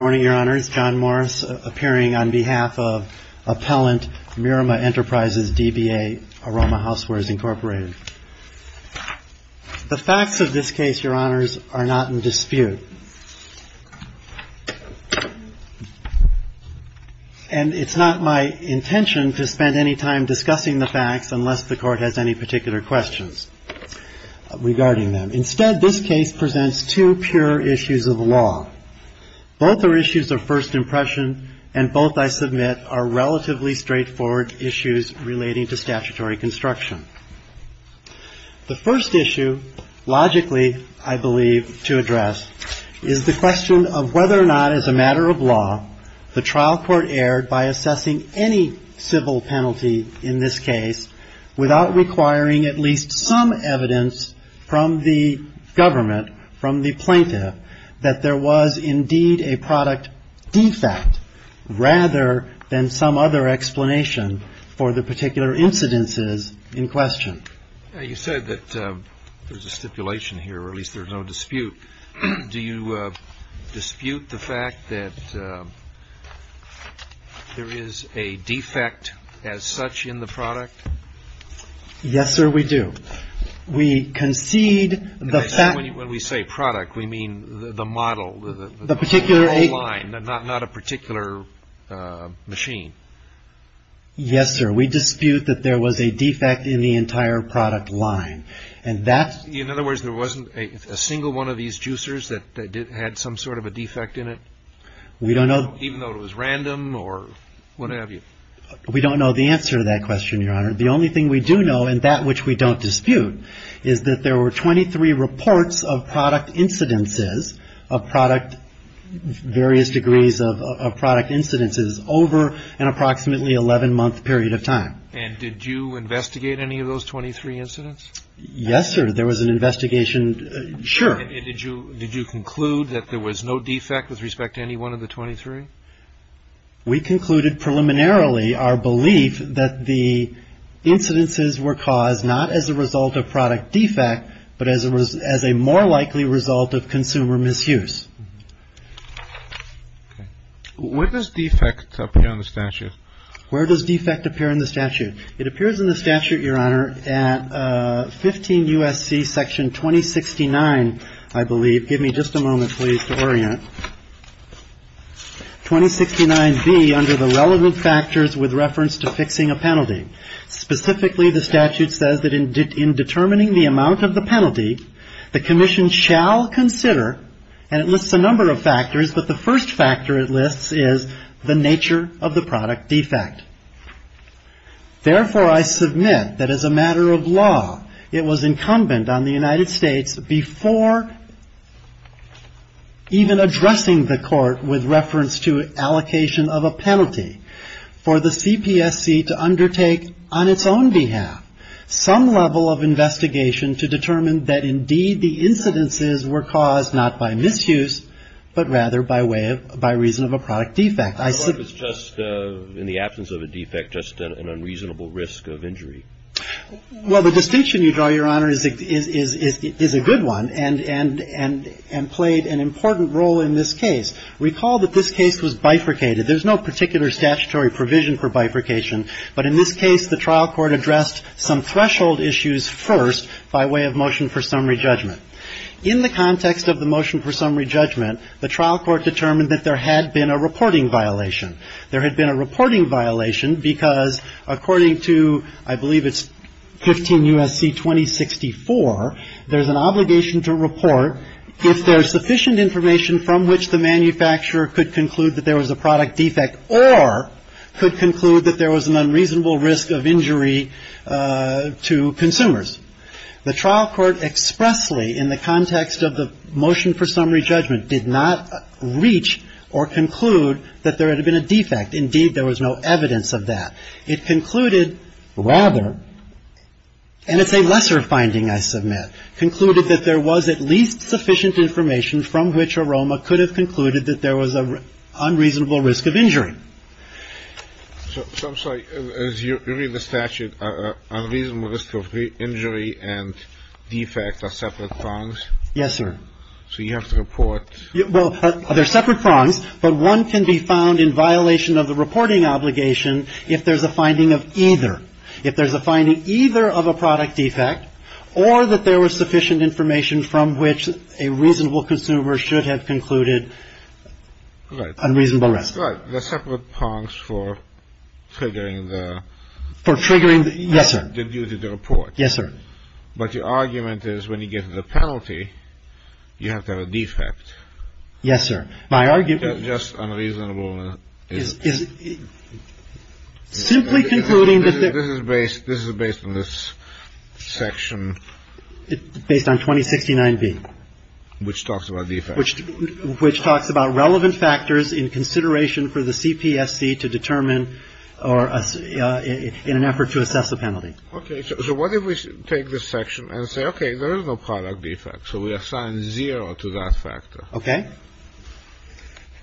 Good morning, your honors. John Morris appearing on behalf of appellant Mirama Enterprises, DBA, Aroma Housewares, Inc. The facts of this case, your honors, are not in dispute. And it's not my intention to spend any time discussing the facts unless the court has any particular questions regarding them. Instead, this case presents two pure issues of law. Both are issues of first impression and both, I submit, are relatively straightforward issues relating to statutory construction. The first issue, logically, I believe, to address is the question of whether or not, as a matter of law, the trial court erred by assessing any civil penalty in this case without requiring at least some evidence from the government, from the plaintiff, that there was indeed a product defect rather than some other explanation for the particular incidences in question. You said that there's a stipulation here, or at least there's no dispute. Do you dispute the fact that there is a defect as such in the product? Yes, sir, we do. We concede the fact... When we say product, we mean the model. The particular... The whole line, not a particular machine. Yes, sir. We dispute that there was a defect in the entire product line. And that's... In other words, there wasn't a single one of these juicers that had some sort of a defect in it? We don't know... Even though it was random or what have you? We don't know the answer to that question, your honor. The only thing we do know, and that which we don't dispute, is that there were 23 reports of product incidences, of product, various degrees of product incidences, over an approximately 11-month period of time. And did you investigate any of those 23 incidents? Yes, sir. There was an investigation. Sure. And did you conclude that there was no defect with respect to any one of the 23? We concluded preliminarily our belief that the incidences were caused not as a result of product defect, but as a more likely result of consumer misuse. Where does defect appear in the statute? Where does defect appear in the statute? It appears in the statute, your honor, at 15 U.S.C. section 2069, I believe. Give me just a moment, please, to orient. 2069B, under the relevant factors with reference to fixing a penalty. Specifically, the statute says that in determining the amount of the penalty, the commission shall consider, and it lists a number of factors, but the first factor it lists is the nature of the product defect. Therefore, I submit that as a matter of law, it was incumbent on the United States, before even addressing the court with reference to allocation of a penalty, for the CPSC to undertake, on its own behalf, some level of investigation to determine that indeed the incidences were caused not by misuse, but rather by way of, by reason of a product defect. Your Honor, if it's just in the absence of a defect, just an unreasonable risk of injury? Well, the distinction you draw, your honor, is a good one, and played an important role in this case. Recall that this case was bifurcated. There's no particular statutory provision for bifurcation, but in this case, the trial court addressed some threshold issues first by way of motion for summary judgment. In the context of the motion for summary judgment, the trial court determined that there had been a reporting violation. There had been a reporting violation because, according to, I believe it's 15 U.S.C. 2064, there's an obligation to report if there's sufficient information from which the manufacturer could conclude that there was a product defect or could conclude that there was an unreasonable risk of injury to consumers. The trial court expressly, in the context of the motion for summary judgment, did not reach or conclude that there had been a defect. Indeed, there was no evidence of that. It concluded rather, and it's a lesser finding, I submit, concluded that there was at least sufficient information from which Aroma could have concluded that there was an unreasonable risk of injury. So I'm sorry. As you read the statute, unreasonable risk of injury and defect are separate prongs? Yes, sir. So you have to report. Well, they're separate prongs, but one can be found in violation of the reporting obligation if there's a finding of either. If there's a finding either of a product defect or that there was sufficient information from which a reasonable consumer should have concluded unreasonable risk. Right. They're separate prongs for triggering the. For triggering. Yes, sir. Due to the report. Yes, sir. But your argument is when you get to the penalty, you have to have a defect. Yes, sir. My argument. Just unreasonable. Simply concluding that. This is based on this section. Based on 2069B. Which talks about defects. Which talks about relevant factors in consideration for the CPSC to determine or in an effort to assess a penalty. Okay. So what if we take this section and say, okay, there is no product defect. So we assign zero to that factor. Okay.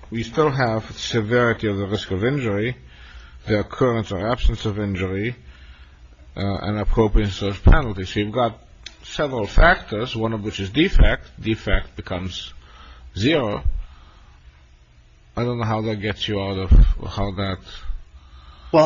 We still have severity of the risk of injury, the occurrence or absence of injury, and appropriateness of penalty. So you've got several factors, one of which is defect. Defect becomes zero. I don't know how that gets you out of how that. Well,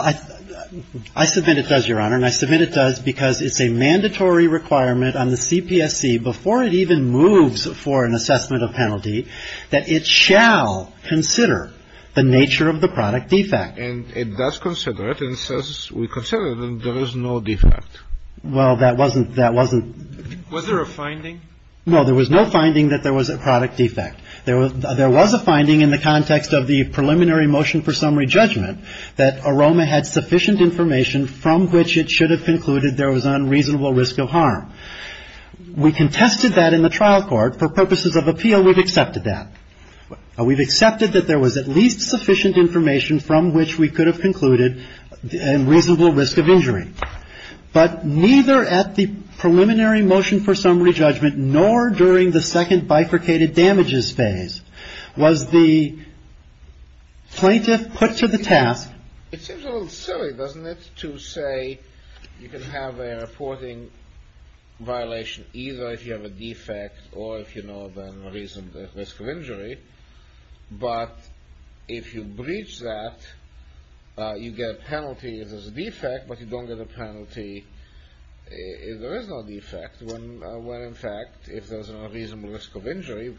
I submit it does, Your Honor. And I submit it does because it's a mandatory requirement on the CPSC, before it even moves for an assessment of penalty, that it shall consider the nature of the product defect. And it does consider it. And it says we consider it and there is no defect. Well, that wasn't, that wasn't. Was there a finding? No. There was no finding that there was a product defect. There was a finding in the context of the preliminary motion for summary judgment that AROMA had sufficient information from which it should have concluded there was unreasonable risk of harm. We contested that in the trial court. For purposes of appeal, we've accepted that. We've accepted that there was at least sufficient information from which we could have concluded a reasonable risk of injury. But neither at the preliminary motion for summary judgment nor during the second bifurcated damages phase was the plaintiff put to the task. It seems a little silly, doesn't it, to say you can have a reporting violation either if you have a defect or if you know the reason for injury. But if you breach that, you get a penalty if there's a defect, but you don't get a penalty if there is no defect. When, in fact, if there's a reasonable risk of injury,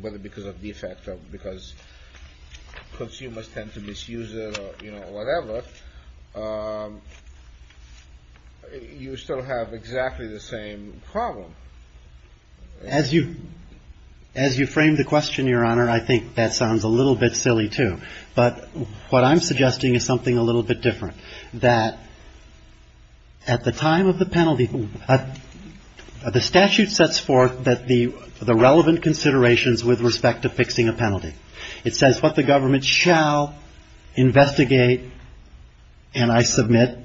whether because of defect or because consumers tend to misuse it or, you know, whatever, you still have exactly the same problem. As you frame the question, Your Honor, I think that sounds a little bit silly, too. But what I'm suggesting is something a little bit different. That at the time of the penalty, the statute sets forth the relevant considerations with respect to fixing a penalty. It says what the government shall investigate and I submit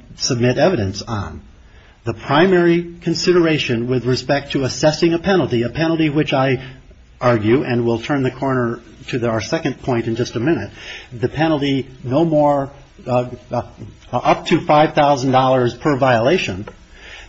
evidence on. The primary consideration with respect to assessing a penalty, a penalty which I argue, and we'll turn the corner to our second point in just a minute, the penalty no more up to $5,000 per violation,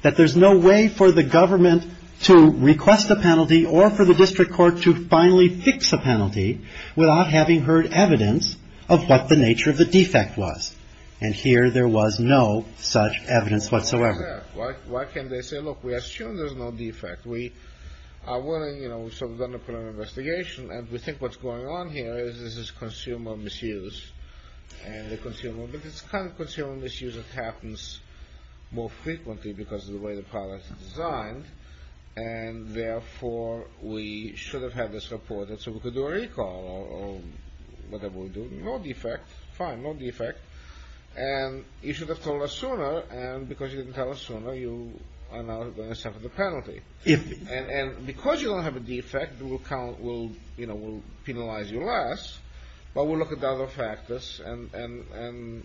that there's no way for the government to request a penalty or for the district court to finally fix a penalty without having heard evidence of what the nature of the defect was. And here there was no such evidence whatsoever. Why can't they say, look, we assume there's no defect. We are willing, you know, we've sort of done a preliminary investigation and we think what's going on here is this is consumer misuse. And the consumer, but it's kind of consumer misuse that happens more frequently because of the way the product is designed. And therefore, we should have had this reported so we could do a recall or whatever we do. No defect. Fine. No defect. And you should have told us sooner. And because you didn't tell us sooner, you are now going to suffer the penalty. And because you don't have a defect, we'll penalize you less, but we'll look at the other factors and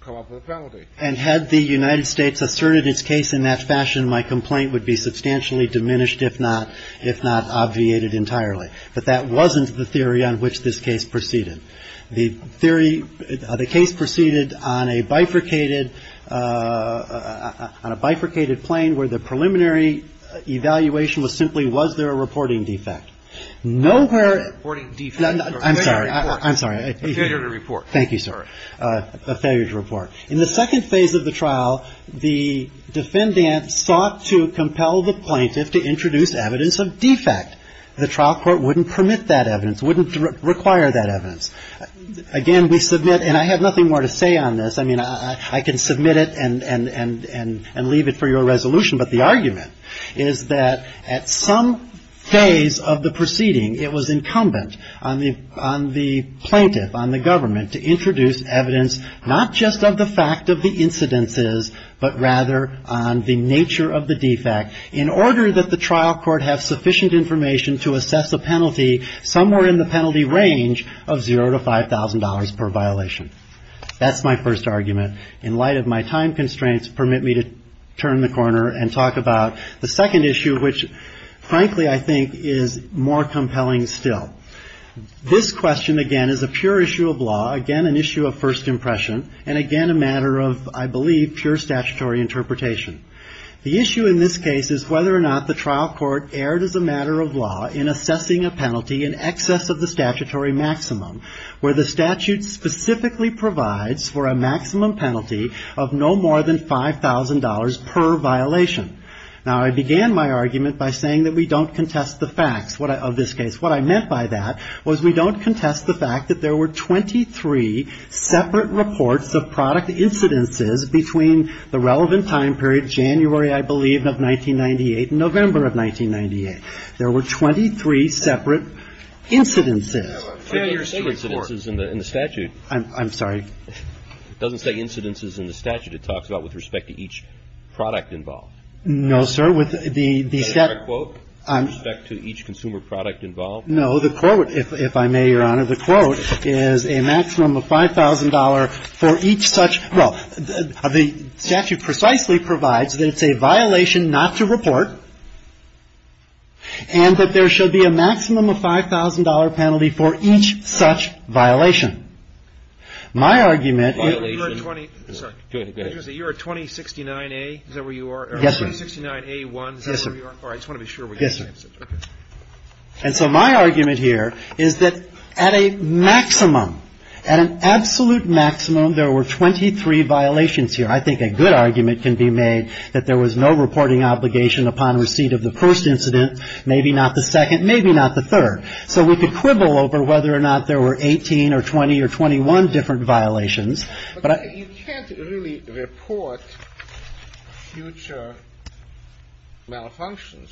come up with a penalty. And had the United States asserted its case in that fashion, my complaint would be substantially diminished, if not, if not obviated entirely. But that wasn't the theory on which this case proceeded. The theory, the case proceeded on a bifurcated, on a bifurcated plane where the preliminary evaluation was simply was there a reporting defect. No where. I'm sorry. I'm sorry. A failure to report. Thank you, sir. A failure to report. In the second phase of the trial, the defendant sought to compel the plaintiff to introduce evidence of defect. The trial court wouldn't permit that evidence, wouldn't require that evidence. Again, we submit, and I have nothing more to say on this. I mean, I can submit it and leave it for your resolution, but the argument is that at some phase of the proceeding, it was incumbent on the plaintiff, on the government, to introduce evidence not just of the fact of the incidences, but rather on the nature of the defect in order that the trial court have sufficient information to assess a penalty somewhere in the penalty range of zero to $5,000 per violation. That's my first argument. In light of my time constraints, permit me to turn the corner and talk about the second issue, which frankly I think is more compelling still. This question again is a pure issue of law, again an issue of first impression, and again a matter of, I believe, pure statutory interpretation. The issue in this case is whether or not the trial court erred as a matter of law in assessing a penalty in excess of the statutory maximum, where the statute specifically provides for a maximum penalty of no more than $5,000 per violation. Now, I began my argument by saying that we don't contest the facts of this case. What I meant by that was we don't contest the fact that there were 23 separate reports of product incidences between the relevant time period, January, I believe, of 1998 and November of 1998. There were 23 separate incidences. Fair use to the court. It doesn't say incidences in the statute. I'm sorry. It doesn't say incidences in the statute. It talks about with respect to each product involved. No, sir. With the separate quote? With respect to each consumer product involved? No. The quote, if I may, Your Honor, the quote is a maximum of $5,000 for each such – well, the statute precisely provides that it's a violation not to report and that there should be a maximum of $5,000 penalty for each such violation. My argument – You're at 20 – sorry. Go ahead. Go ahead. You're at 2069A. Is that where you are? Yes, sir. 2069A1. Is that where you are? Yes, sir. All right. I just want to be sure. Yes, sir. Okay. And so my argument here is that at a maximum, at an absolute maximum, there were 23 violations here. I think a good argument can be made that there was no reporting obligation upon receipt of the first incident, maybe not the second, maybe not the third. So we could quibble over whether or not there were 18 or 20 or 21 different violations. But I – But you can't really report future malfunctions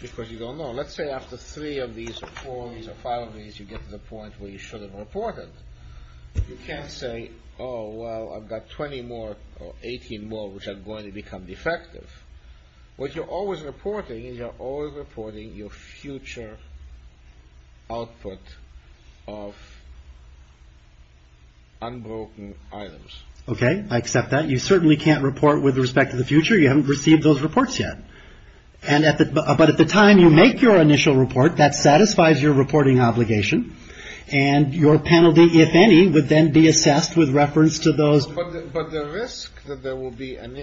because you don't know. Let's say after three of these or four of these or five of these, you get to the point where you should have reported. You can't say, oh, well, I've got 20 more or 18 more which are going to become defective. What you're always reporting is you're always reporting your future output of unbroken items. Okay. I accept that. You certainly can't report with respect to the future. You haven't received those reports yet. But at the time you make your initial report, that satisfies your reporting obligation. And your penalty, if any, would then be assessed with reference to those. But the risk that there will be an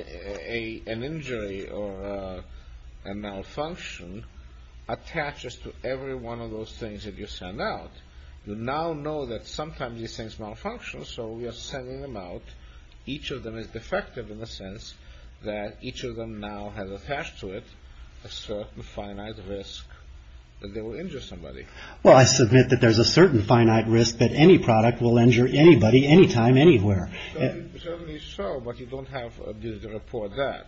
injury or a malfunction attaches to every one of those things that you send out. You now know that sometimes these things malfunction, so we are sending them out. Each of them is defective in the sense that each of them now has attached to it a certain finite risk that they will injure somebody. Well, I submit that there's a certain finite risk that any product will injure anybody anytime, anywhere. Certainly so, but you don't have a duty to report that.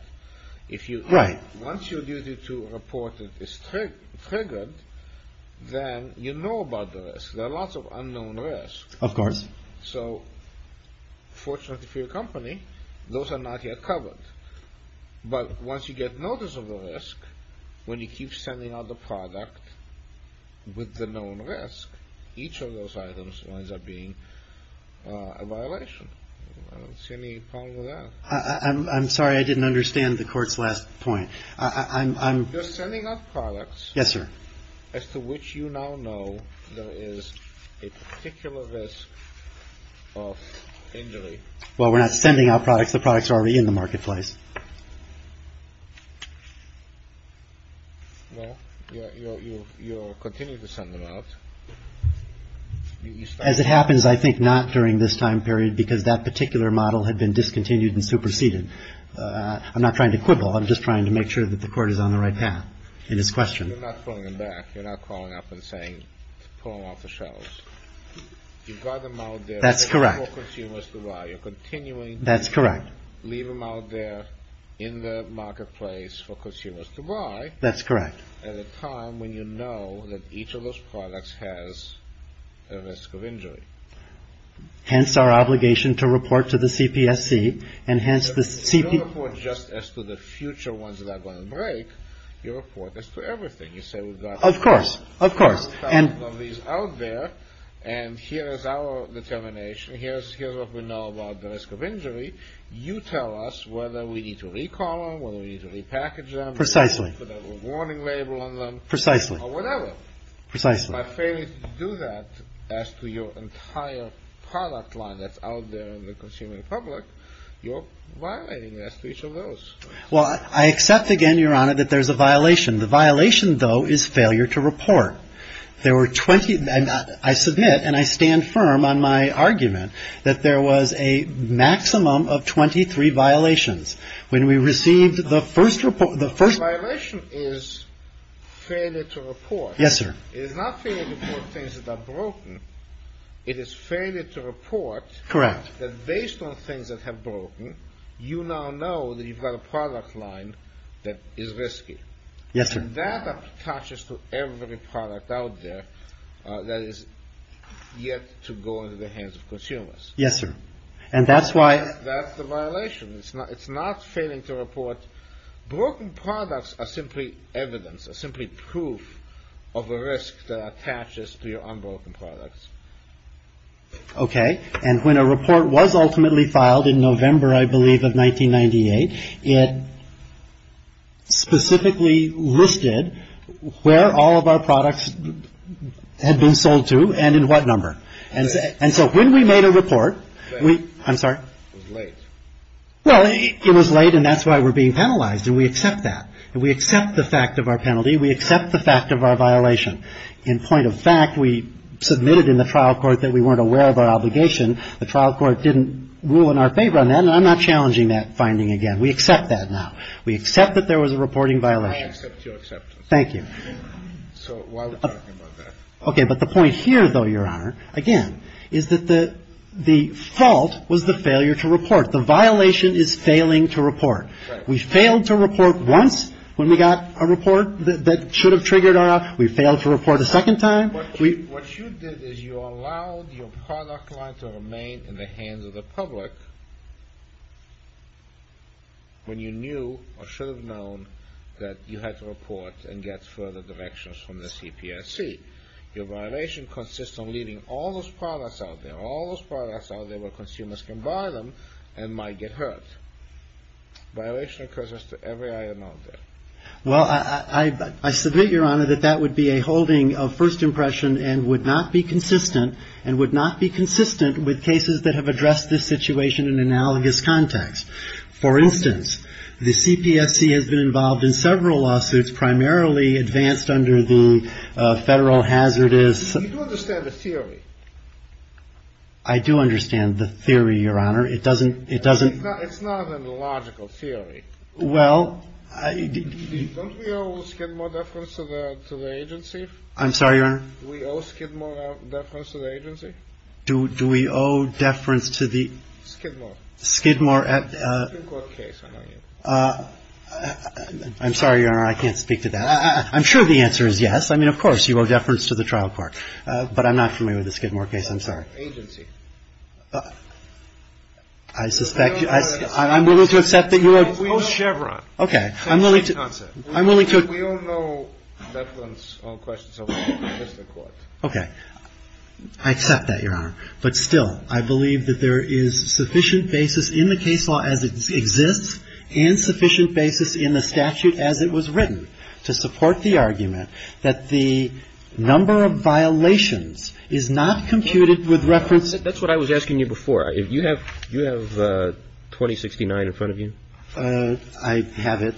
Right. Once your duty to report it is triggered, then you know about the risk. There are lots of unknown risks. Of course. So fortunately for your company, those are not yet covered. But once you get notice of the risk, when you keep sending out the product with the I don't see any problem with that. I'm sorry. I didn't understand the court's last point. I'm sending out products. Yes, sir. As to which you now know there is a particular risk of injury. Well, we're not sending out products. The products are already in the marketplace. Well, you continue to send them out. As it happens, I think not during this time period because that particular model had been discontinued and superseded. I'm not trying to quibble. I'm just trying to make sure that the court is on the right path in this question. You're not pulling them back. You're not calling up and saying pull them off the shelves. You've got them out there for consumers to buy. That's correct. You're continuing to leave them out there in the marketplace for consumers to buy. That's correct. At a time when you know that each of those products has a risk of injury. Hence our obligation to report to the CPSC and hence the CPSC. You don't report just as to the future ones that are going to break. You report as to everything. You say we've got. Of course. Of course. Thousands of these out there and here is our determination. Here's what we know about the risk of injury. You tell us whether we need to recall them, whether we need to repackage them. Precisely. Or whatever. Precisely. By failing to do that as to your entire product line that's out there in the consumer public, you're violating as to each of those. Well, I accept again, Your Honor, that there's a violation. The violation, though, is failure to report. There were 20. I submit and I stand firm on my argument that there was a maximum of 23 violations. When we received the first report. The first violation is failure to report. Yes, sir. It is not failure to report things that are broken. It is failure to report. Correct. That based on things that have broken, you now know that you've got a product line that is risky. Yes, sir. And that attaches to every product out there that is yet to go into the hands of consumers. Yes, sir. And that's why. That's the violation. It's not failing to report. Broken products are simply evidence, are simply proof of a risk that attaches to your unbroken products. Okay. And when a report was ultimately filed in November, I believe, of 1998, it specifically listed where all of our products had been sold to and in what number. And so when we made a report. I'm sorry. It was late. Well, it was late, and that's why we're being penalized. And we accept that. And we accept the fact of our penalty. We accept the fact of our violation. In point of fact, we submitted in the trial court that we weren't aware of our obligation. The trial court didn't rule in our favor on that. And I'm not challenging that finding again. We accept that now. We accept that there was a reporting violation. I accept your acceptance. Thank you. So while we're talking about that. Okay. But the point here, though, Your Honor, again, is that the fault was the failure to report. The violation is failing to report. Right. We failed to report once when we got a report that should have triggered our act. We failed to report a second time. What you did is you allowed your product line to remain in the hands of the public when you knew or should have known that you had to report and get further directions from the CPSC. Your violation consists of leaving all those products out there, all those products out there where consumers can buy them and might get hurt. Violation occurs to every item out there. Well, I submit, Your Honor, that that would be a holding of first impression and would not be consistent and would not be consistent with cases that have addressed this situation in analogous context. For instance, the CPSC has been involved in several lawsuits, primarily advanced under the Federal Hazardous. You do understand the theory. I do understand the theory, Your Honor. It doesn't. It doesn't. It's not an illogical theory. Well, I. Don't we owe Skidmore deference to the agency? I'm sorry, Your Honor? Do we owe Skidmore deference to the agency? Do we owe deference to the. Skidmore. Skidmore. I'm sorry, Your Honor. I can't speak to that. I'm sure the answer is yes. I mean, of course, you owe deference to the trial court. But I'm not familiar with the Skidmore case. I'm sorry. Agency. I suspect. I'm willing to accept that you owe. Chevron. Okay. I'm willing to. I'm willing to. We all know that one's on questions of Mr. Court. Okay. I accept that, Your Honor. But still, I believe that there is sufficient basis in the case law as it exists and sufficient basis in the statute as it was written to support the argument that the number of violations is not computed with reference. That's what I was asking you before. You have 2069 in front of you? I have it.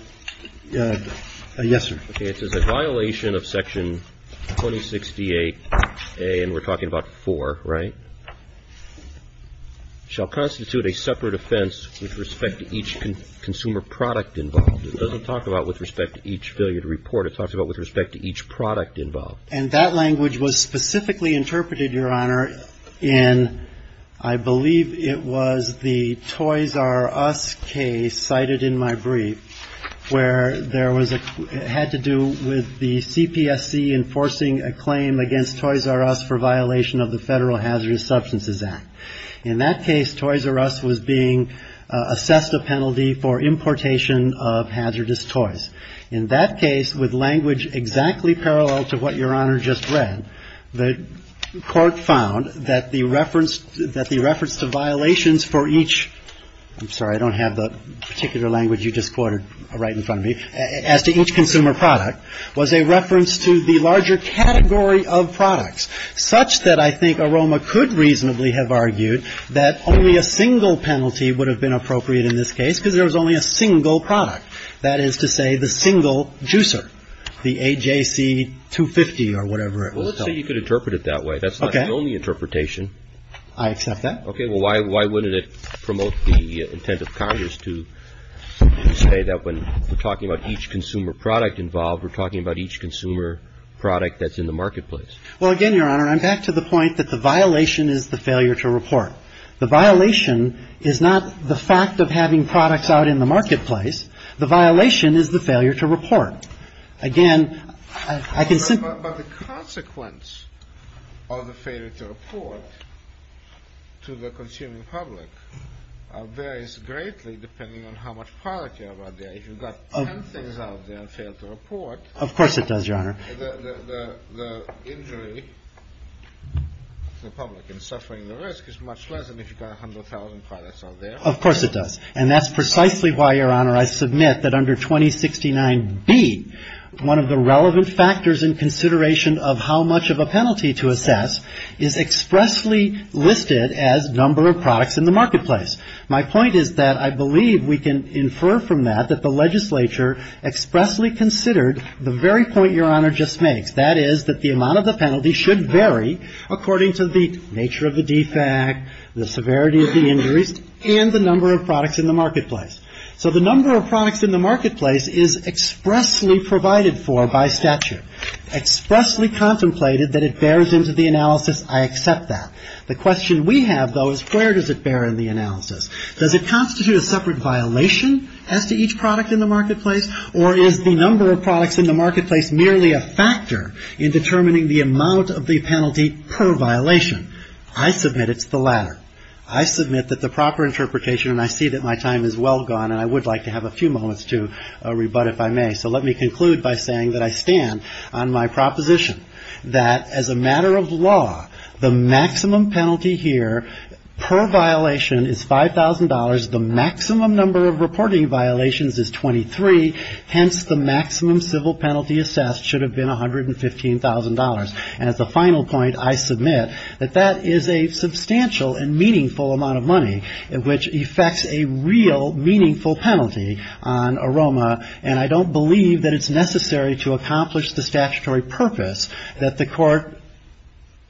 Yes, sir. Okay. It says that violation of Section 2068A, and we're talking about 4, right, shall constitute a separate offense with respect to each consumer product involved. It doesn't talk about with respect to each billiard report. It talks about with respect to each product involved. And that language was specifically interpreted, Your Honor, in I believe it was the Toys R Us case cited in my brief where there was a had to do with the CPSC enforcing a claim against Toys R Us for violation of the Federal Hazardous Substances Act. In that case, Toys R Us was being assessed a penalty for importation of hazardous toys. In that case, with language exactly parallel to what Your Honor just read, the court found that the reference that the reference to violations for each I'm sorry, I don't have the particular language you just quoted right in front of me. As to each consumer product was a reference to the larger category of products, such that I think Aroma could reasonably have argued that only a single penalty would have been appropriate in this case because there was only a single product, that is to say the single juicer, the AJC 250 or whatever it was called. Well, let's say you could interpret it that way. That's not the only interpretation. I accept that. Okay. Well, why wouldn't it promote the intent of Congress to say that when we're talking about each consumer product involved, we're talking about each consumer product that's in the marketplace? Well, again, Your Honor, I'm back to the point that the violation is the failure to report. The violation is not the fact of having products out in the marketplace. The violation is the failure to report. But the consequence of the failure to report to the consuming public varies greatly depending on how much product you have out there. If you've got ten things out there and fail to report. Of course it does, Your Honor. The injury to the public in suffering the risk is much less than if you've got 100,000 products out there. Of course it does. And that's precisely why, Your Honor, I submit that under 2069B, one of the relevant factors in consideration of how much of a penalty to assess is expressly listed as number of products in the marketplace. My point is that I believe we can infer from that that the legislature expressly considered the very point Your Honor just makes. That is that the amount of the penalty should vary according to the nature of the defect, the severity of the injuries, and the number of products in the marketplace. So the number of products in the marketplace is expressly provided for by statute, expressly contemplated that it bears into the analysis. I accept that. The question we have, though, is where does it bear in the analysis? Does it constitute a separate violation as to each product in the marketplace? Or is the number of products in the marketplace merely a factor in determining the amount of the penalty per violation? I submit it's the latter. I submit that the proper interpretation, and I see that my time is well gone, and I would like to have a few moments to rebut if I may. So let me conclude by saying that I stand on my proposition that as a matter of law, the maximum penalty here per violation is $5,000. The maximum number of reporting violations is 23. Hence, the maximum civil penalty assessed should have been $115,000. And as a final point, I submit that that is a substantial and meaningful amount of money, which effects a real meaningful penalty on AROMA, and I don't believe that it's necessary to accomplish the statutory purpose that the court,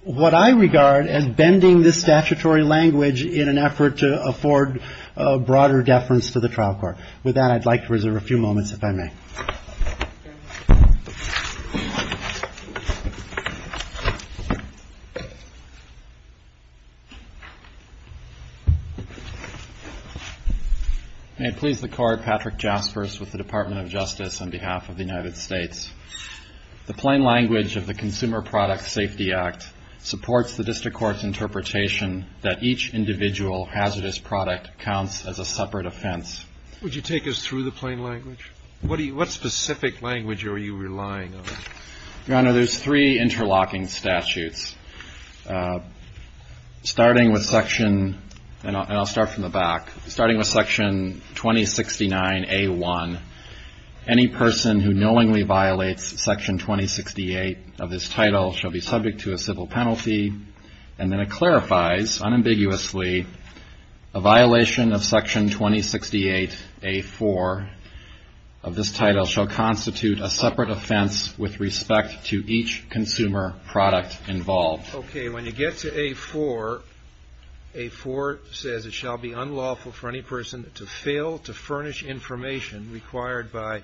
what I regard as bending the statutory language in an effort to afford broader deference to the trial court. With that, I'd like to reserve a few moments, if I may. May it please the Court, Patrick Jaspers with the Department of Justice on behalf of the United States. The plain language of the Consumer Product Safety Act supports the district court's interpretation that each individual hazardous product counts as a separate offense. Would you take us through the plain language? What specific language are you relying on? Your Honor, there's three interlocking statutes. Starting with section, and I'll start from the back. Starting with section 2069A1, any person who knowingly violates section 2068 of this title shall be subject to a civil penalty. And then it clarifies, unambiguously, a violation of section 2068A4 of this title shall constitute a separate offense with respect to each consumer product involved. Okay, when you get to A4, A4 says it shall be unlawful for any person to fail to furnish information required by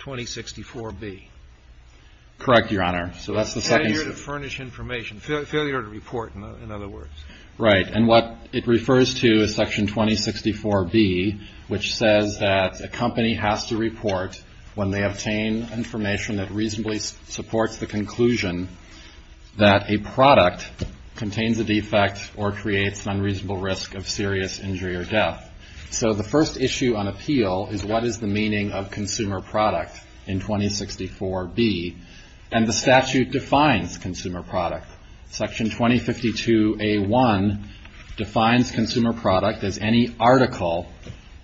2064B. Correct, Your Honor. Failure to furnish information. Failure to report, in other words. Right. And what it refers to is section 2064B, which says that a company has to report when they obtain information that reasonably supports the conclusion that a product contains a defect or creates an unreasonable risk of serious injury or death. So the first issue on appeal is what is the meaning of consumer product in 2064B? And the statute defines consumer product. Section 2052A1 defines consumer product as any article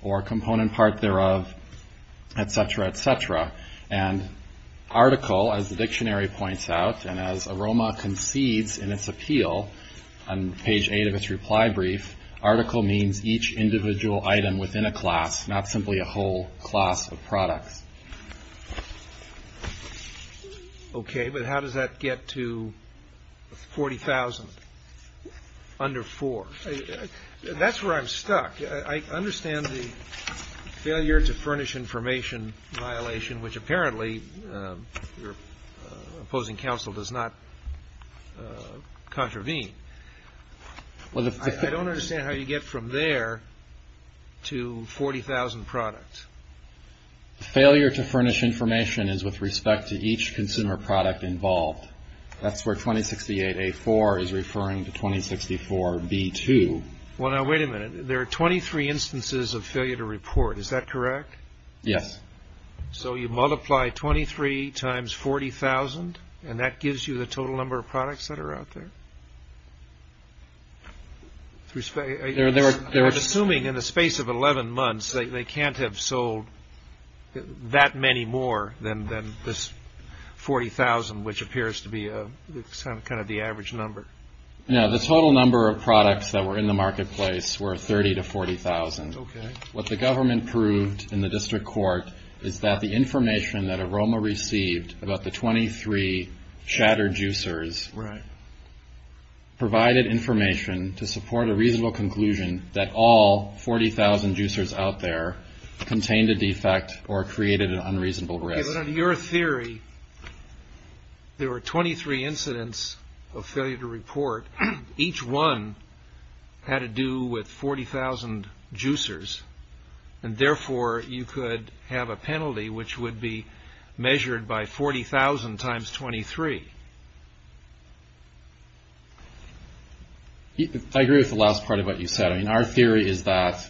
or component part thereof, etc., etc. And article, as the dictionary points out, and as AROMA concedes in its appeal, on page 8 of its reply brief, article means each individual item within a class, not simply a whole class of products. Okay, but how does that get to 40,000 under 4? That's where I'm stuck. I understand the failure to furnish information violation, which apparently your opposing counsel does not contravene. I don't understand how you get from there to 40,000 products. Failure to furnish information is with respect to each consumer product involved. That's where 2068A4 is referring to 2064B2. Well, now, wait a minute. There are 23 instances of failure to report. Is that correct? Yes. So you multiply 23 times 40,000, and that gives you the total number of products that are out there? I'm assuming in the space of 11 months, they can't have sold that many more than this 40,000, which appears to be kind of the average number. No, the total number of products that were in the marketplace were 30,000 to 40,000. Okay. What the government proved in the district court is that the information that Aroma received about the 23 shattered juicers provided information to support a reasonable conclusion that all 40,000 juicers out there contained a defect or created an unreasonable risk. Okay, but under your theory, there were 23 incidents of failure to report. Each one had to do with 40,000 juicers, and therefore you could have a penalty which would be measured by 40,000 times 23. I agree with the last part of what you said. Our theory is that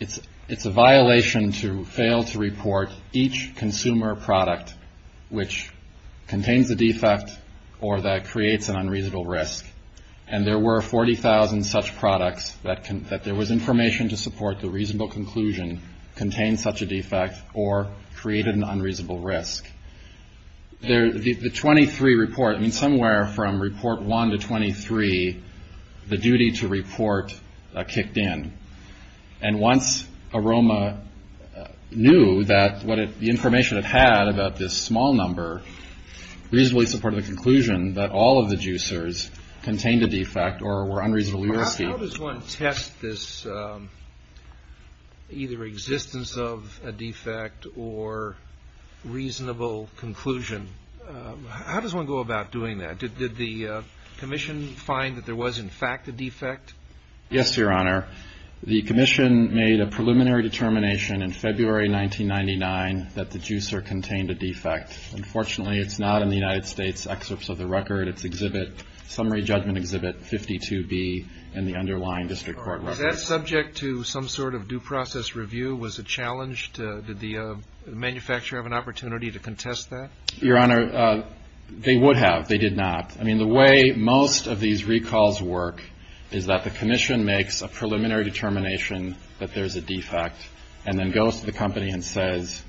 it's a violation to fail to report each consumer product which contains a defect or that creates an unreasonable risk, and there were 40,000 such products that there was information to support the reasonable conclusion contained such a defect or created an unreasonable risk. The 23 report, I mean, somewhere from Report 1 to 23, the duty to report kicked in, and once Aroma knew that the information it had about this small number reasonably supported the conclusion that all of the juicers contained a defect or were unreasonably risky. How does one test this either existence of a defect or reasonable conclusion? How does one go about doing that? Did the commission find that there was in fact a defect? Yes, Your Honor. The commission made a preliminary determination in February 1999 that the juicer contained a defect. Unfortunately, it's not in the United States Excerpts of the Record. It's Exhibit Summary Judgment Exhibit 52B in the underlying district court records. Was that subject to some sort of due process review? Was it challenged? Did the manufacturer have an opportunity to contest that? Your Honor, they would have. They did not. I mean, the way most of these recalls work is that the commission makes a preliminary determination that there's a defect and then goes to the company and says,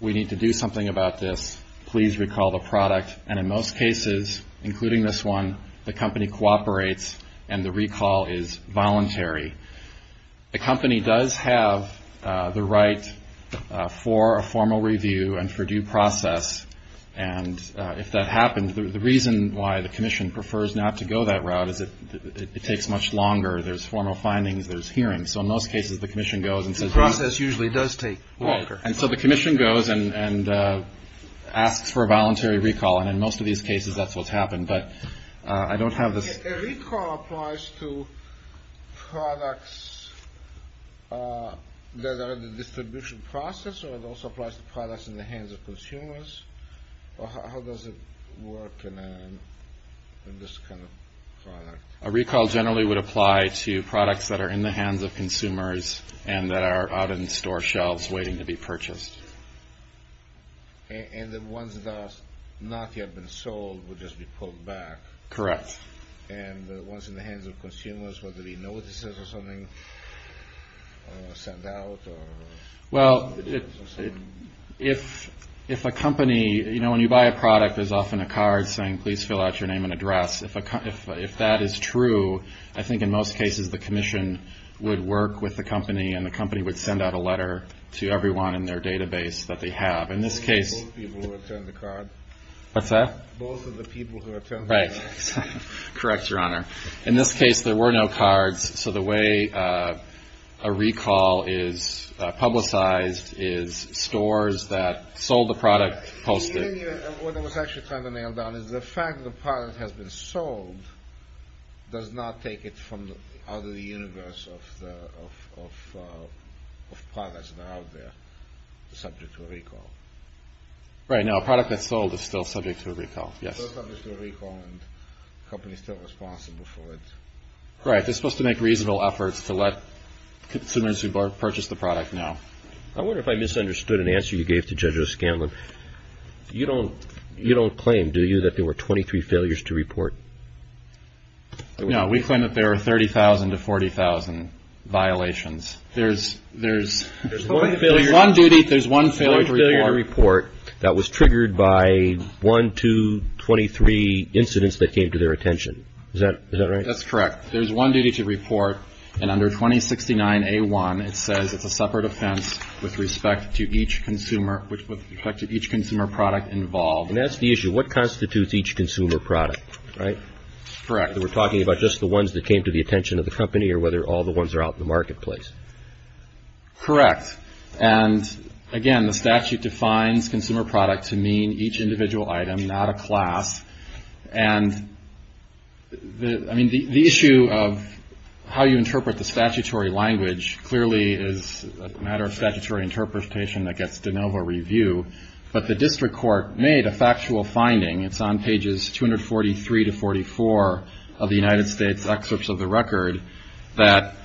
we need to do something about this, please recall the product, and in most cases, including this one, the company cooperates and the recall is voluntary. The company does have the right for a formal review and for due process, and if that happens, the reason why the commission prefers not to go that route is it takes much longer. There's formal findings. There's hearings. So in most cases, the commission goes and says. The process usually does take longer. And so the commission goes and asks for a voluntary recall, and in most of these cases, that's what's happened. But I don't have this. A recall applies to products that are in the distribution process, or it also applies to products in the hands of consumers? How does it work in this kind of product? A recall generally would apply to products that are in the hands of consumers and that are out in store shelves waiting to be purchased. And the ones that have not yet been sold would just be pulled back. Correct. And the ones in the hands of consumers, would they be notices or something sent out? Well, if a company, you know, when you buy a product, there's often a card saying, please fill out your name and address. If that is true, I think in most cases the commission would work with the company and the company would send out a letter to everyone in their database that they have. In this case. Both of the people who attend the card. What's that? Both of the people who attend the card. Right. Correct, Your Honor. In this case, there were no cards. So the way a recall is publicized is stores that sold the product posted. What I was actually trying to nail down is the fact that the product has been sold does not take it from the other universe of products that are out there subject to a recall. Right. No, a product that's sold is still subject to a recall. Yes. A product is still a recall and the company is still responsible for it. Right. They're supposed to make reasonable efforts to let consumers who purchase the product know. I wonder if I misunderstood an answer you gave to Judge O'Scanlan. You don't claim, do you, that there were 23 failures to report? No, we claim that there were 30,000 to 40,000 violations. There's one failure to report. That was triggered by one, two, 23 incidents that came to their attention. Is that right? That's correct. There's one duty to report, and under 2069A1 it says it's a separate offense with respect to each consumer product involved. And that's the issue. What constitutes each consumer product? Right? Correct. We're talking about just the ones that came to the attention of the company or whether all the ones are out in the marketplace? Correct. And, again, the statute defines consumer product to mean each individual item, not a class. And, I mean, the issue of how you interpret the statutory language clearly is a matter of statutory interpretation that gets de novo review. But the district court made a factual finding. It's on pages 243 to 44 of the United States Excerpts of the Record that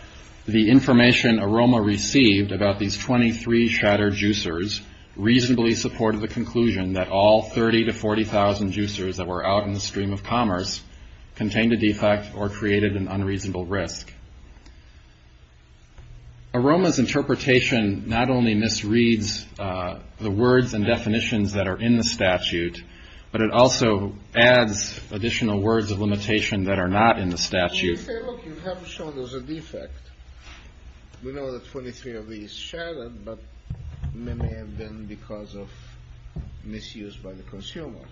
the information AROMA received about these 23 shattered juicers reasonably supported the conclusion that all 30,000 to 40,000 juicers that were out in the stream of commerce contained a defect or created an unreasonable risk. AROMA's interpretation not only misreads the words and definitions that are in the statute, but it also adds additional words of limitation that are not in the statute. You say, look, you have shown there's a defect. We know that 23 of these shattered, but they may have been because of misuse by the consumer,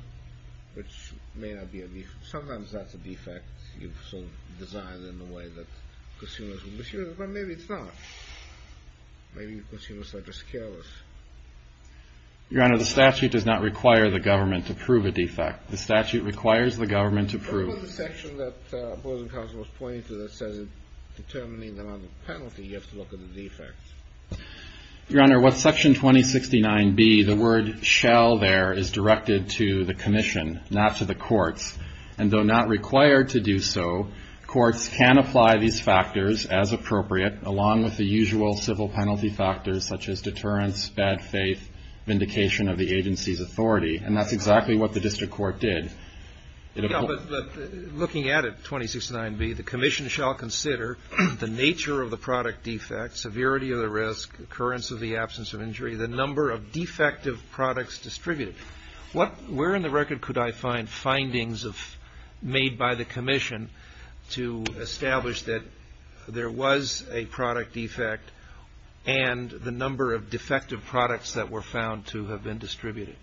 which may not be a defect. Sometimes that's a defect you've sort of designed in a way that consumers will misuse it, but maybe it's not. Maybe consumers are just careless. Your Honor, the statute does not require the government to prove a defect. The statute requires the government to prove it. In the section that the opposing counsel was pointing to that says determining the amount of penalty, you have to look at the defect. Your Honor, with Section 2069B, the word shall there is directed to the commission, not to the courts, and though not required to do so, courts can apply these factors as appropriate, along with the usual civil penalty factors such as deterrence, bad faith, vindication of the agency's authority, and that's exactly what the district court did. But looking at it, 2069B, the commission shall consider the nature of the product defect, severity of the risk, occurrence of the absence of injury, the number of defective products distributed. Where in the record could I find findings made by the commission to establish that there was a product defect and the number of defective products that were found to have been distributed?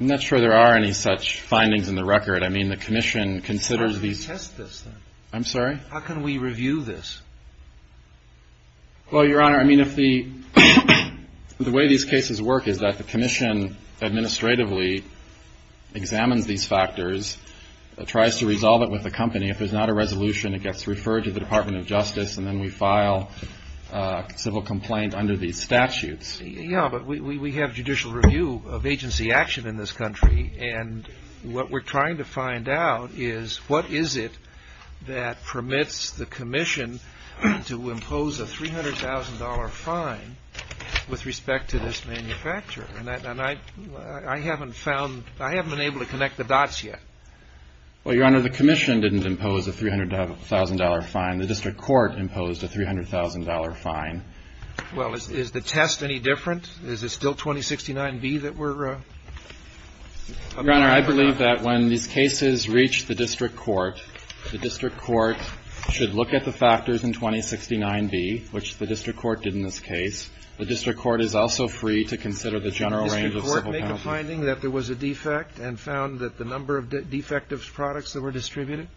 I'm not sure there are any such findings in the record. I mean, the commission considers these. How do we test this, then? I'm sorry? How can we review this? Well, Your Honor, I mean, if the way these cases work is that the commission administratively examines these factors, tries to resolve it with the company. If there's not a resolution, it gets referred to the Department of Justice, and then we file a civil complaint under these statutes. Yeah, but we have judicial review of agency action in this country, and what we're trying to find out is what is it that permits the commission to impose a $300,000 fine with respect to this manufacturer? And I haven't found, I haven't been able to connect the dots yet. Well, Your Honor, the commission didn't impose a $300,000 fine. The district court imposed a $300,000 fine. Well, is the test any different? Is it still 2069B that we're? Your Honor, I believe that when these cases reach the district court, the district court should look at the factors in 2069B, which the district court did in this case. The district court is also free to consider the general range of civil penalty. Did the district court make a finding that there was a defect and found that the number of defective products that were distributed?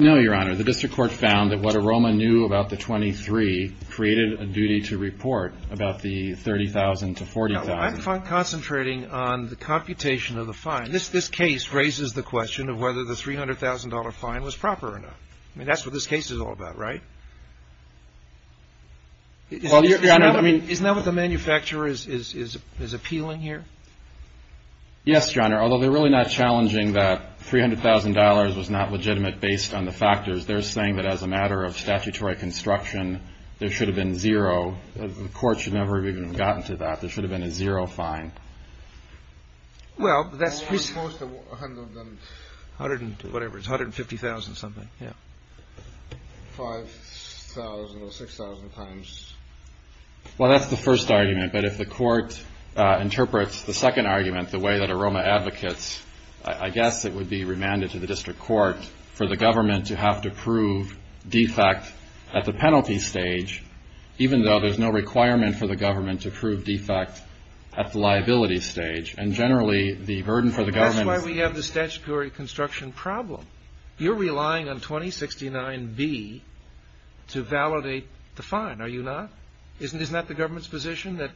No, Your Honor. The district court found that what AROMA knew about the 23 created a duty to report about the 30,000 to 40,000. Now, I'm concentrating on the computation of the fine. This case raises the question of whether the $300,000 fine was proper or not. I mean, that's what this case is all about, right? Isn't that what the manufacturer is appealing here? Yes, Your Honor, although they're really not challenging that $300,000 was not legitimate based on the factors. They're saying that as a matter of statutory construction, there should have been zero. The court should never have even gotten to that. There should have been a zero fine. Well, that's supposed to 100 and whatever. It's 150,000 something. Yeah. 5,000 or 6,000 times. Well, that's the first argument. But if the court interprets the second argument the way that AROMA advocates, I guess it would be remanded to the district court for the government to have to prove defect at the penalty stage, even though there's no requirement for the government to prove defect at the liability stage. And generally, the burden for the government is... That's why we have the statutory construction problem. You're relying on 2069B to validate the fine, are you not? Isn't that the government's position, that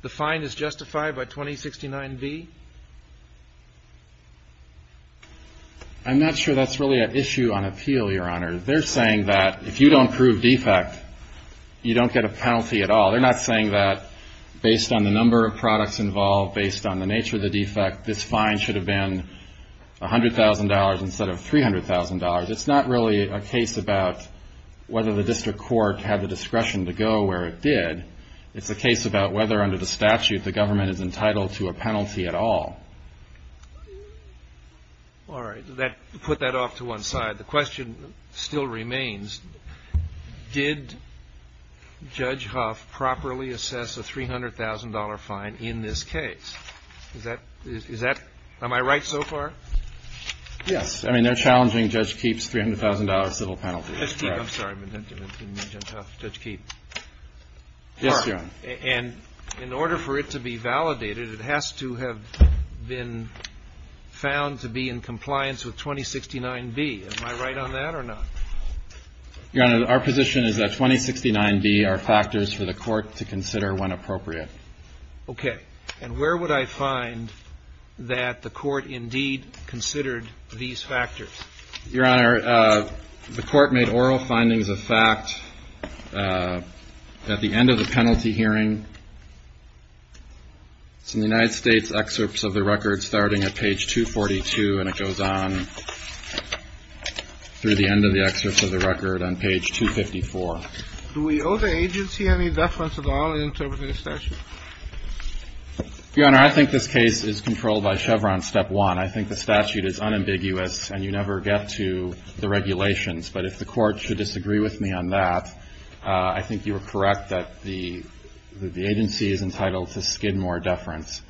the fine is justified by 2069B? I'm not sure that's really an issue on appeal, Your Honor. They're saying that if you don't prove defect, you don't get a penalty at all. They're not saying that based on the number of products involved, based on the nature of the defect, this fine should have been $100,000 instead of $300,000. It's not really a case about whether the district court had the discretion to go where it did. It's a case about whether under the statute the government is entitled to a penalty at all. All right. Put that off to one side. The question still remains, did Judge Huff properly assess a $300,000 fine in this case? Am I right so far? Yes. I mean, they're challenging Judge Keefe's $300,000 civil penalty. Judge Keefe. I'm sorry. I meant Judge Huff. Judge Keefe. Yes, Your Honor. And in order for it to be validated, it has to have been found to be in compliance with 2069B. Am I right on that or not? Your Honor, our position is that 2069B are factors for the Court to consider when appropriate. Okay. And where would I find that the Court indeed considered these factors? Your Honor, the Court made oral findings of fact at the end of the penalty hearing. It's in the United States excerpts of the record starting at page 242, and it goes on through the end of the excerpt of the record on page 254. Do we owe the agency any deference at all in interpreting the statute? Your Honor, I think this case is controlled by Chevron step one. I think the statute is unambiguous, and you never get to the regulations. But if the Court should disagree with me on that, I think you are correct that the agency is entitled to skid more deference,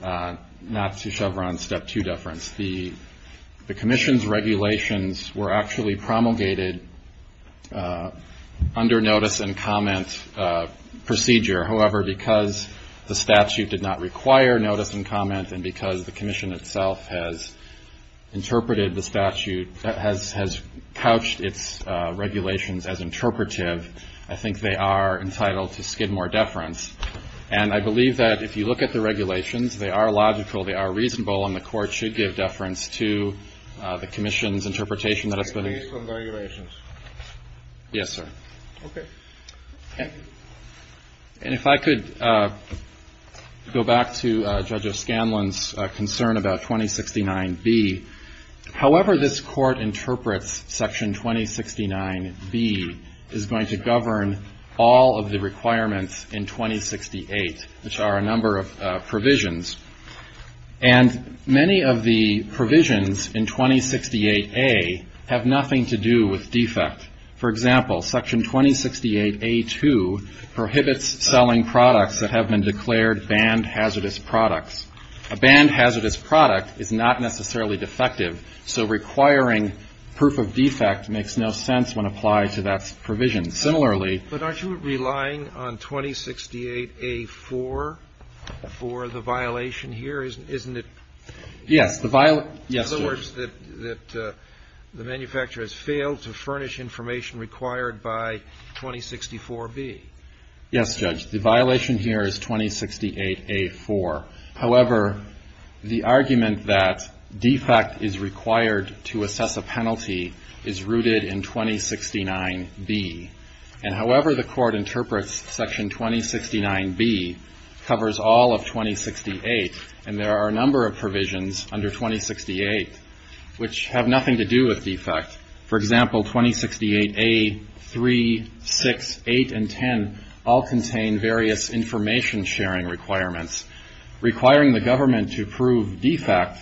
not to Chevron step two deference. The commission's regulations were actually promulgated under notice and comment procedure. However, because the statute did not require notice and comment, and because the commission itself has interpreted the statute, has couched its regulations as interpretive, I think they are entitled to skid more deference. And I believe that if you look at the regulations, they are logical, they are reasonable, and the Court should give deference to the commission's interpretation that has been expressed. Based on the regulations? Yes, sir. Okay. And if I could go back to Judge O'Scanlon's concern about 2069B. However this Court interprets section 2069B is going to govern all of the requirements in 2068, which are a number of provisions. And many of the provisions in 2068A have nothing to do with defect. For example, section 2068A2 prohibits selling products that have been declared banned hazardous products. A banned hazardous product is not necessarily defective, so requiring proof of defect makes no sense when applied to that provision. Similarly ---- But aren't you relying on 2068A4 for the violation here? Isn't it ---- Yes. In other words, that the manufacturer has failed to furnish information required by 2064B. Yes, Judge. The violation here is 2068A4. However, the argument that defect is required to assess a penalty is rooted in 2069B. And however the Court interprets section 2069B covers all of 2068. And there are a number of provisions under 2068 which have nothing to do with defect. For example, 2068A3, 6, 8, and 10 all contain various information sharing requirements. Requiring the government to prove defect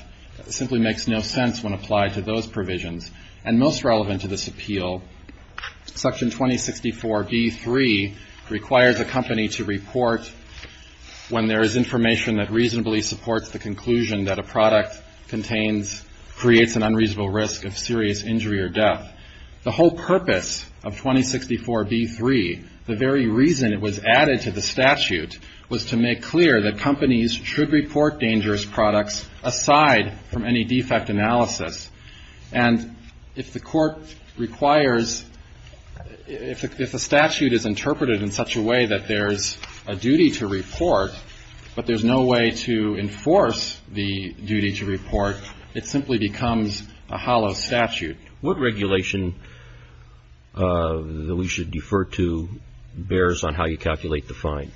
simply makes no sense when applied to those provisions. And most relevant to this appeal, section 2064B3 requires a company to report when there is information that reasonably supports the conclusion that a product contains, creates an unreasonable risk of serious injury or death. The whole purpose of 2064B3, the very reason it was added to the statute, was to make clear that companies should report dangerous products aside from any defect analysis. And if the Court requires, if the statute is interpreted in such a way that there's a duty to report, but there's no way to enforce the duty to report, it simply becomes a hollow statute. What regulation that we should defer to bears on how you calculate the fine?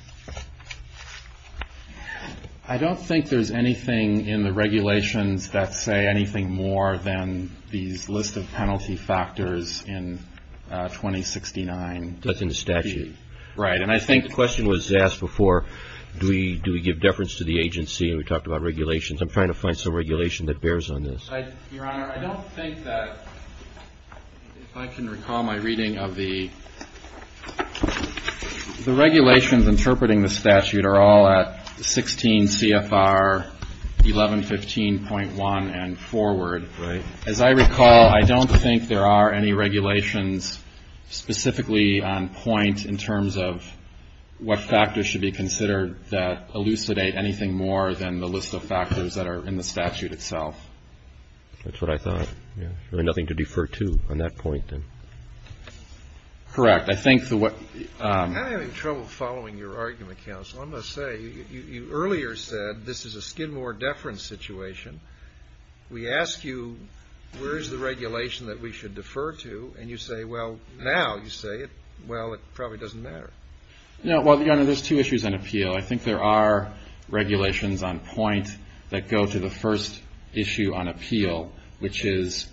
I don't think there's anything in the regulations that say anything more than these list of penalty factors in 2069B. That's in the statute. Right. And I think the question was asked before, do we give deference to the agency? And we talked about regulations. I'm trying to find some regulation that bears on this. Your Honor, I don't think that, if I can recall my reading of the regulations interpreting the statute, are all at 16 CFR 1115.1 and forward. Right. As I recall, I don't think there are any regulations specifically on point in terms of what factors should be considered that elucidate anything more than the list of factors that are in the statute itself. That's what I thought. Yeah. Really nothing to defer to on that point, then? Correct. I think the what — I'm having trouble following your argument, counsel. I'm going to say, you earlier said this is a Skidmore deference situation. We ask you, where is the regulation that we should defer to? And you say, well, now you say, well, it probably doesn't matter. You know, Your Honor, there's two issues on appeal. I think there are regulations on point that go to the first issue on appeal, which is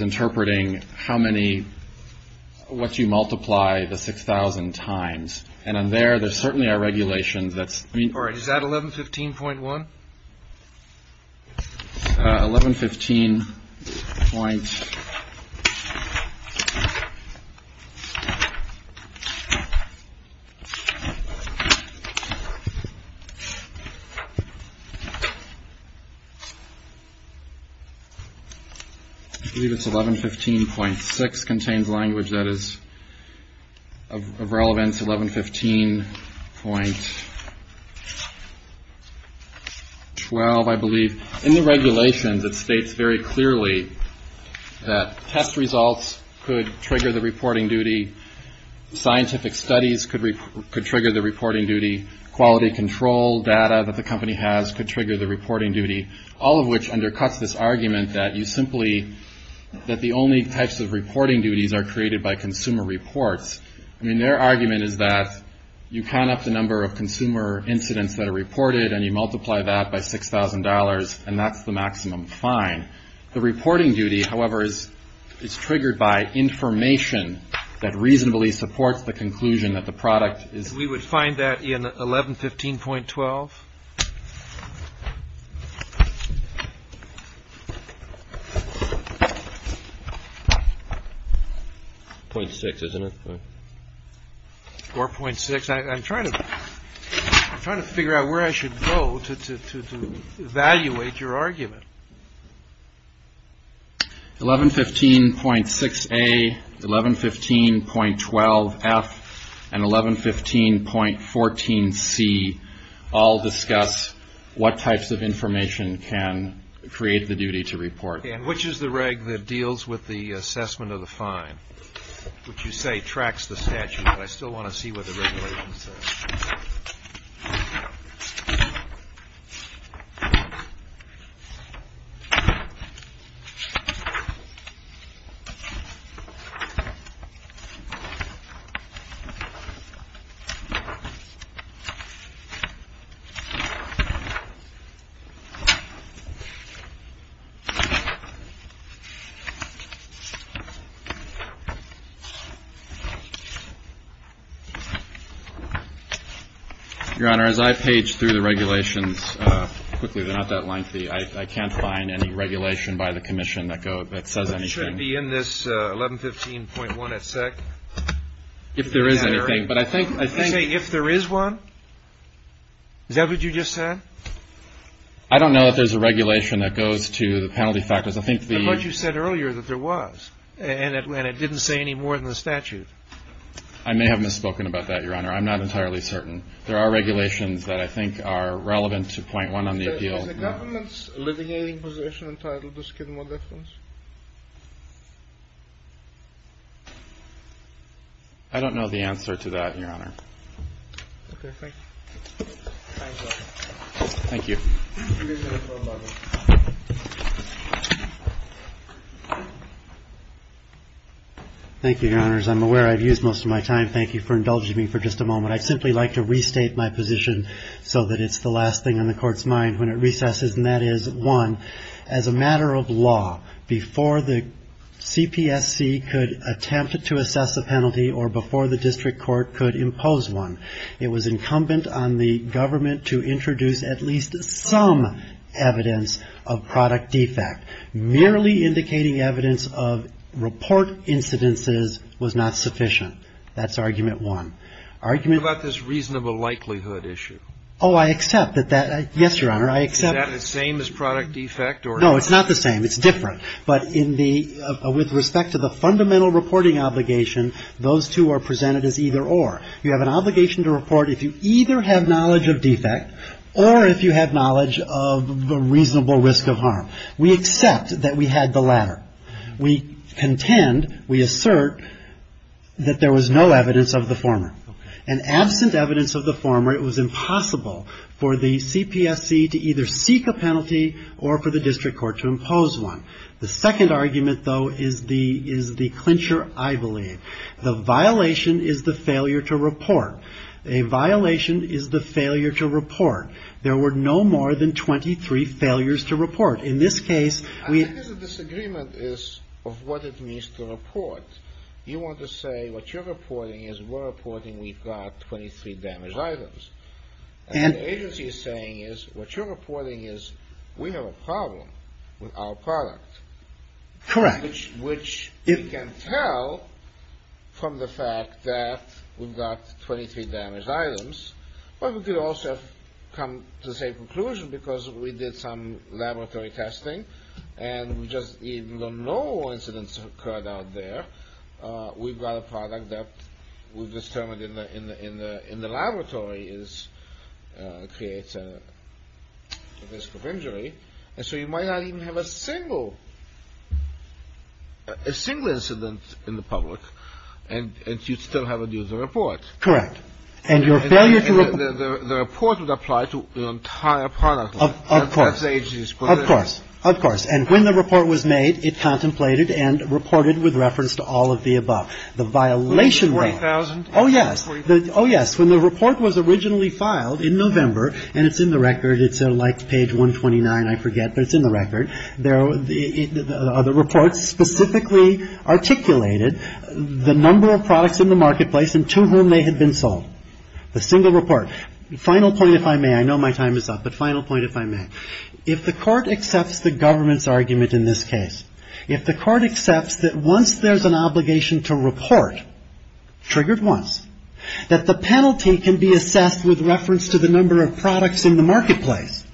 interpreting how many — what you multiply the 6,000 times. And on there, there certainly are regulations that's — All right. Is that 1115.1? 1115. — I believe it's 1115.6 contains language that is of relevance. That's 1115.12, I believe. In the regulations, it states very clearly that test results could trigger the reporting duty. Scientific studies could trigger the reporting duty. Quality control data that the company has could trigger the reporting duty, all of which undercuts this argument that you simply — that the only types of reporting duties are created by consumer reports. I mean, their argument is that you count up the number of consumer incidents that are reported and you multiply that by $6,000, and that's the maximum fine. The reporting duty, however, is triggered by information that reasonably supports the conclusion that the product is — We would find that in 1115.12. Point six, isn't it? 4.6. I'm trying to figure out where I should go to evaluate your argument. 1115.6A, 1115.12F, and 1115.14C all discuss what types of information can create the duty to report. And which is the reg that deals with the assessment of the fine? What you say tracks the statute, but I still want to see what the regulations say. Your Honor, as I page through the regulations quickly, they're not that lengthy. I can't find any regulation by the commission that says anything. Should it be in this 1115.1 at SEC? If there is anything, but I think — Did you say, if there is one? Is that what you just said? I don't know that there's a regulation that goes to the penalty factors. I think the — But you said earlier that there was, and it didn't say any more than the statute. I may have misspoken about that, Your Honor. I'm not entirely certain. There are regulations that I think are relevant to point one on the appeal. Is the government's alleviating position entitled to skid more difference? I don't know the answer to that, Your Honor. Okay. Thank you. Thank you. Thank you, Your Honors. I'm aware I've used most of my time. Thank you for indulging me for just a moment. I'd simply like to restate my position so that it's the last thing on the Court's mind when it recesses, and that is, one, as a matter of law, before the CPSC could attempt to assess a penalty or before the district court could impose one, it was incumbent on the government to introduce at least some evidence of product defect. Merely indicating evidence of report incidences was not sufficient. That's argument one. What about this reasonable likelihood issue? Oh, I accept that that — yes, Your Honor, I accept — Is that the same as product defect? No, it's not the same. It's different. But in the — with respect to the fundamental reporting obligation, those two are presented as either-or. You have an obligation to report if you either have knowledge of defect or if you have knowledge of the reasonable risk of harm. We accept that we had the latter. We contend, we assert, that there was no evidence of the former. And absent evidence of the former, it was impossible for the CPSC to either seek a penalty or for the district court to impose one. The violation is the failure to report. A violation is the failure to report. There were no more than 23 failures to report. In this case, we — I think the disagreement is of what it means to report. You want to say what you're reporting is we're reporting we've got 23 damaged items. And the agency is saying is what you're reporting is we have a problem with our product. Correct. Which you can tell from the fact that we've got 23 damaged items. But we could also have come to the same conclusion because we did some laboratory testing and we just even though no incidents occurred out there, we've got a product that we've determined in the laboratory is — creates a risk of injury. And so you might not even have a single — a single incident in the public and you still haven't used the report. Correct. And your failure to — The report would apply to the entire product. Of course. That's the agency's position. Of course. Of course. And when the report was made, it contemplated and reported with reference to all of the above. The violation — 40,000. Oh, yes. Oh, yes. When the report was originally filed in November, and it's in the record. It's like page 129. I forget, but it's in the record. The report specifically articulated the number of products in the marketplace and to whom they had been sold. The single report. Final point, if I may. I know my time is up. But final point, if I may. If the court accepts the government's argument in this case, if the court accepts that once there's an obligation to report, triggered once, that the penalty can be assessed with reference to the number of products in the marketplace,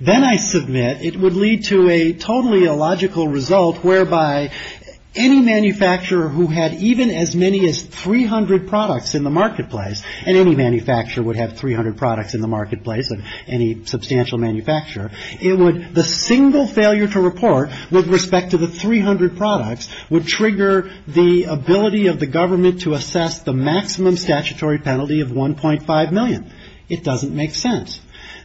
then I submit it would lead to a totally illogical result whereby any manufacturer who had even as many as 300 products in the marketplace, and any manufacturer would have 300 products in the marketplace, any substantial manufacturer, it would — the single failure to report with respect to the 300 products would trigger the ability of the government to assess the maximum statutory penalty of $1.5 million. It doesn't make sense.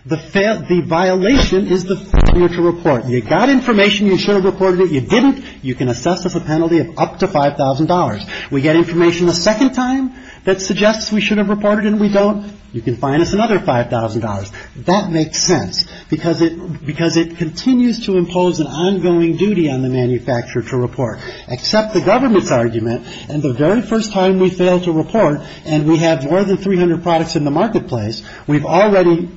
The violation is the failure to report. You got information, you should have reported it. You didn't, you can assess as a penalty of up to $5,000. We get information a second time that suggests we should have reported and we don't, you can fine us another $5,000. That makes sense because it — because it continues to impose an ongoing duty on the manufacturer to report. Accept the government's argument and the very first time we fail to report and we have more than 300 products in the marketplace, we've already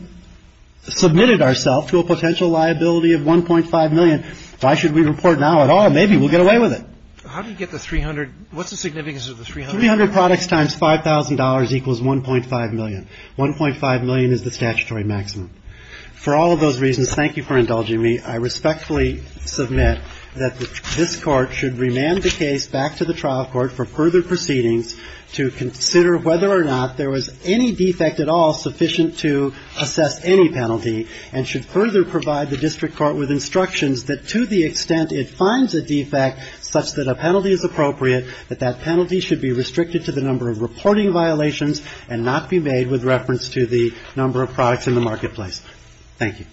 submitted ourselves to a potential liability of $1.5 million. Why should we report now at all? Maybe we'll get away with it. How do you get the 300 — what's the significance of the 300? Three hundred products times $5,000 equals $1.5 million. $1.5 million is the statutory maximum. For all of those reasons, thank you for indulging me, I respectfully submit that this Court should remand the case back to the trial court for further proceedings to consider whether or not there was any defect at all sufficient to assess any penalty and should further provide the district court with instructions that to the extent it finds a defect such that a penalty is appropriate, that that penalty should be restricted to the number of reporting violations and not be made with reference to the number of products in the marketplace. Thank you. Thank you.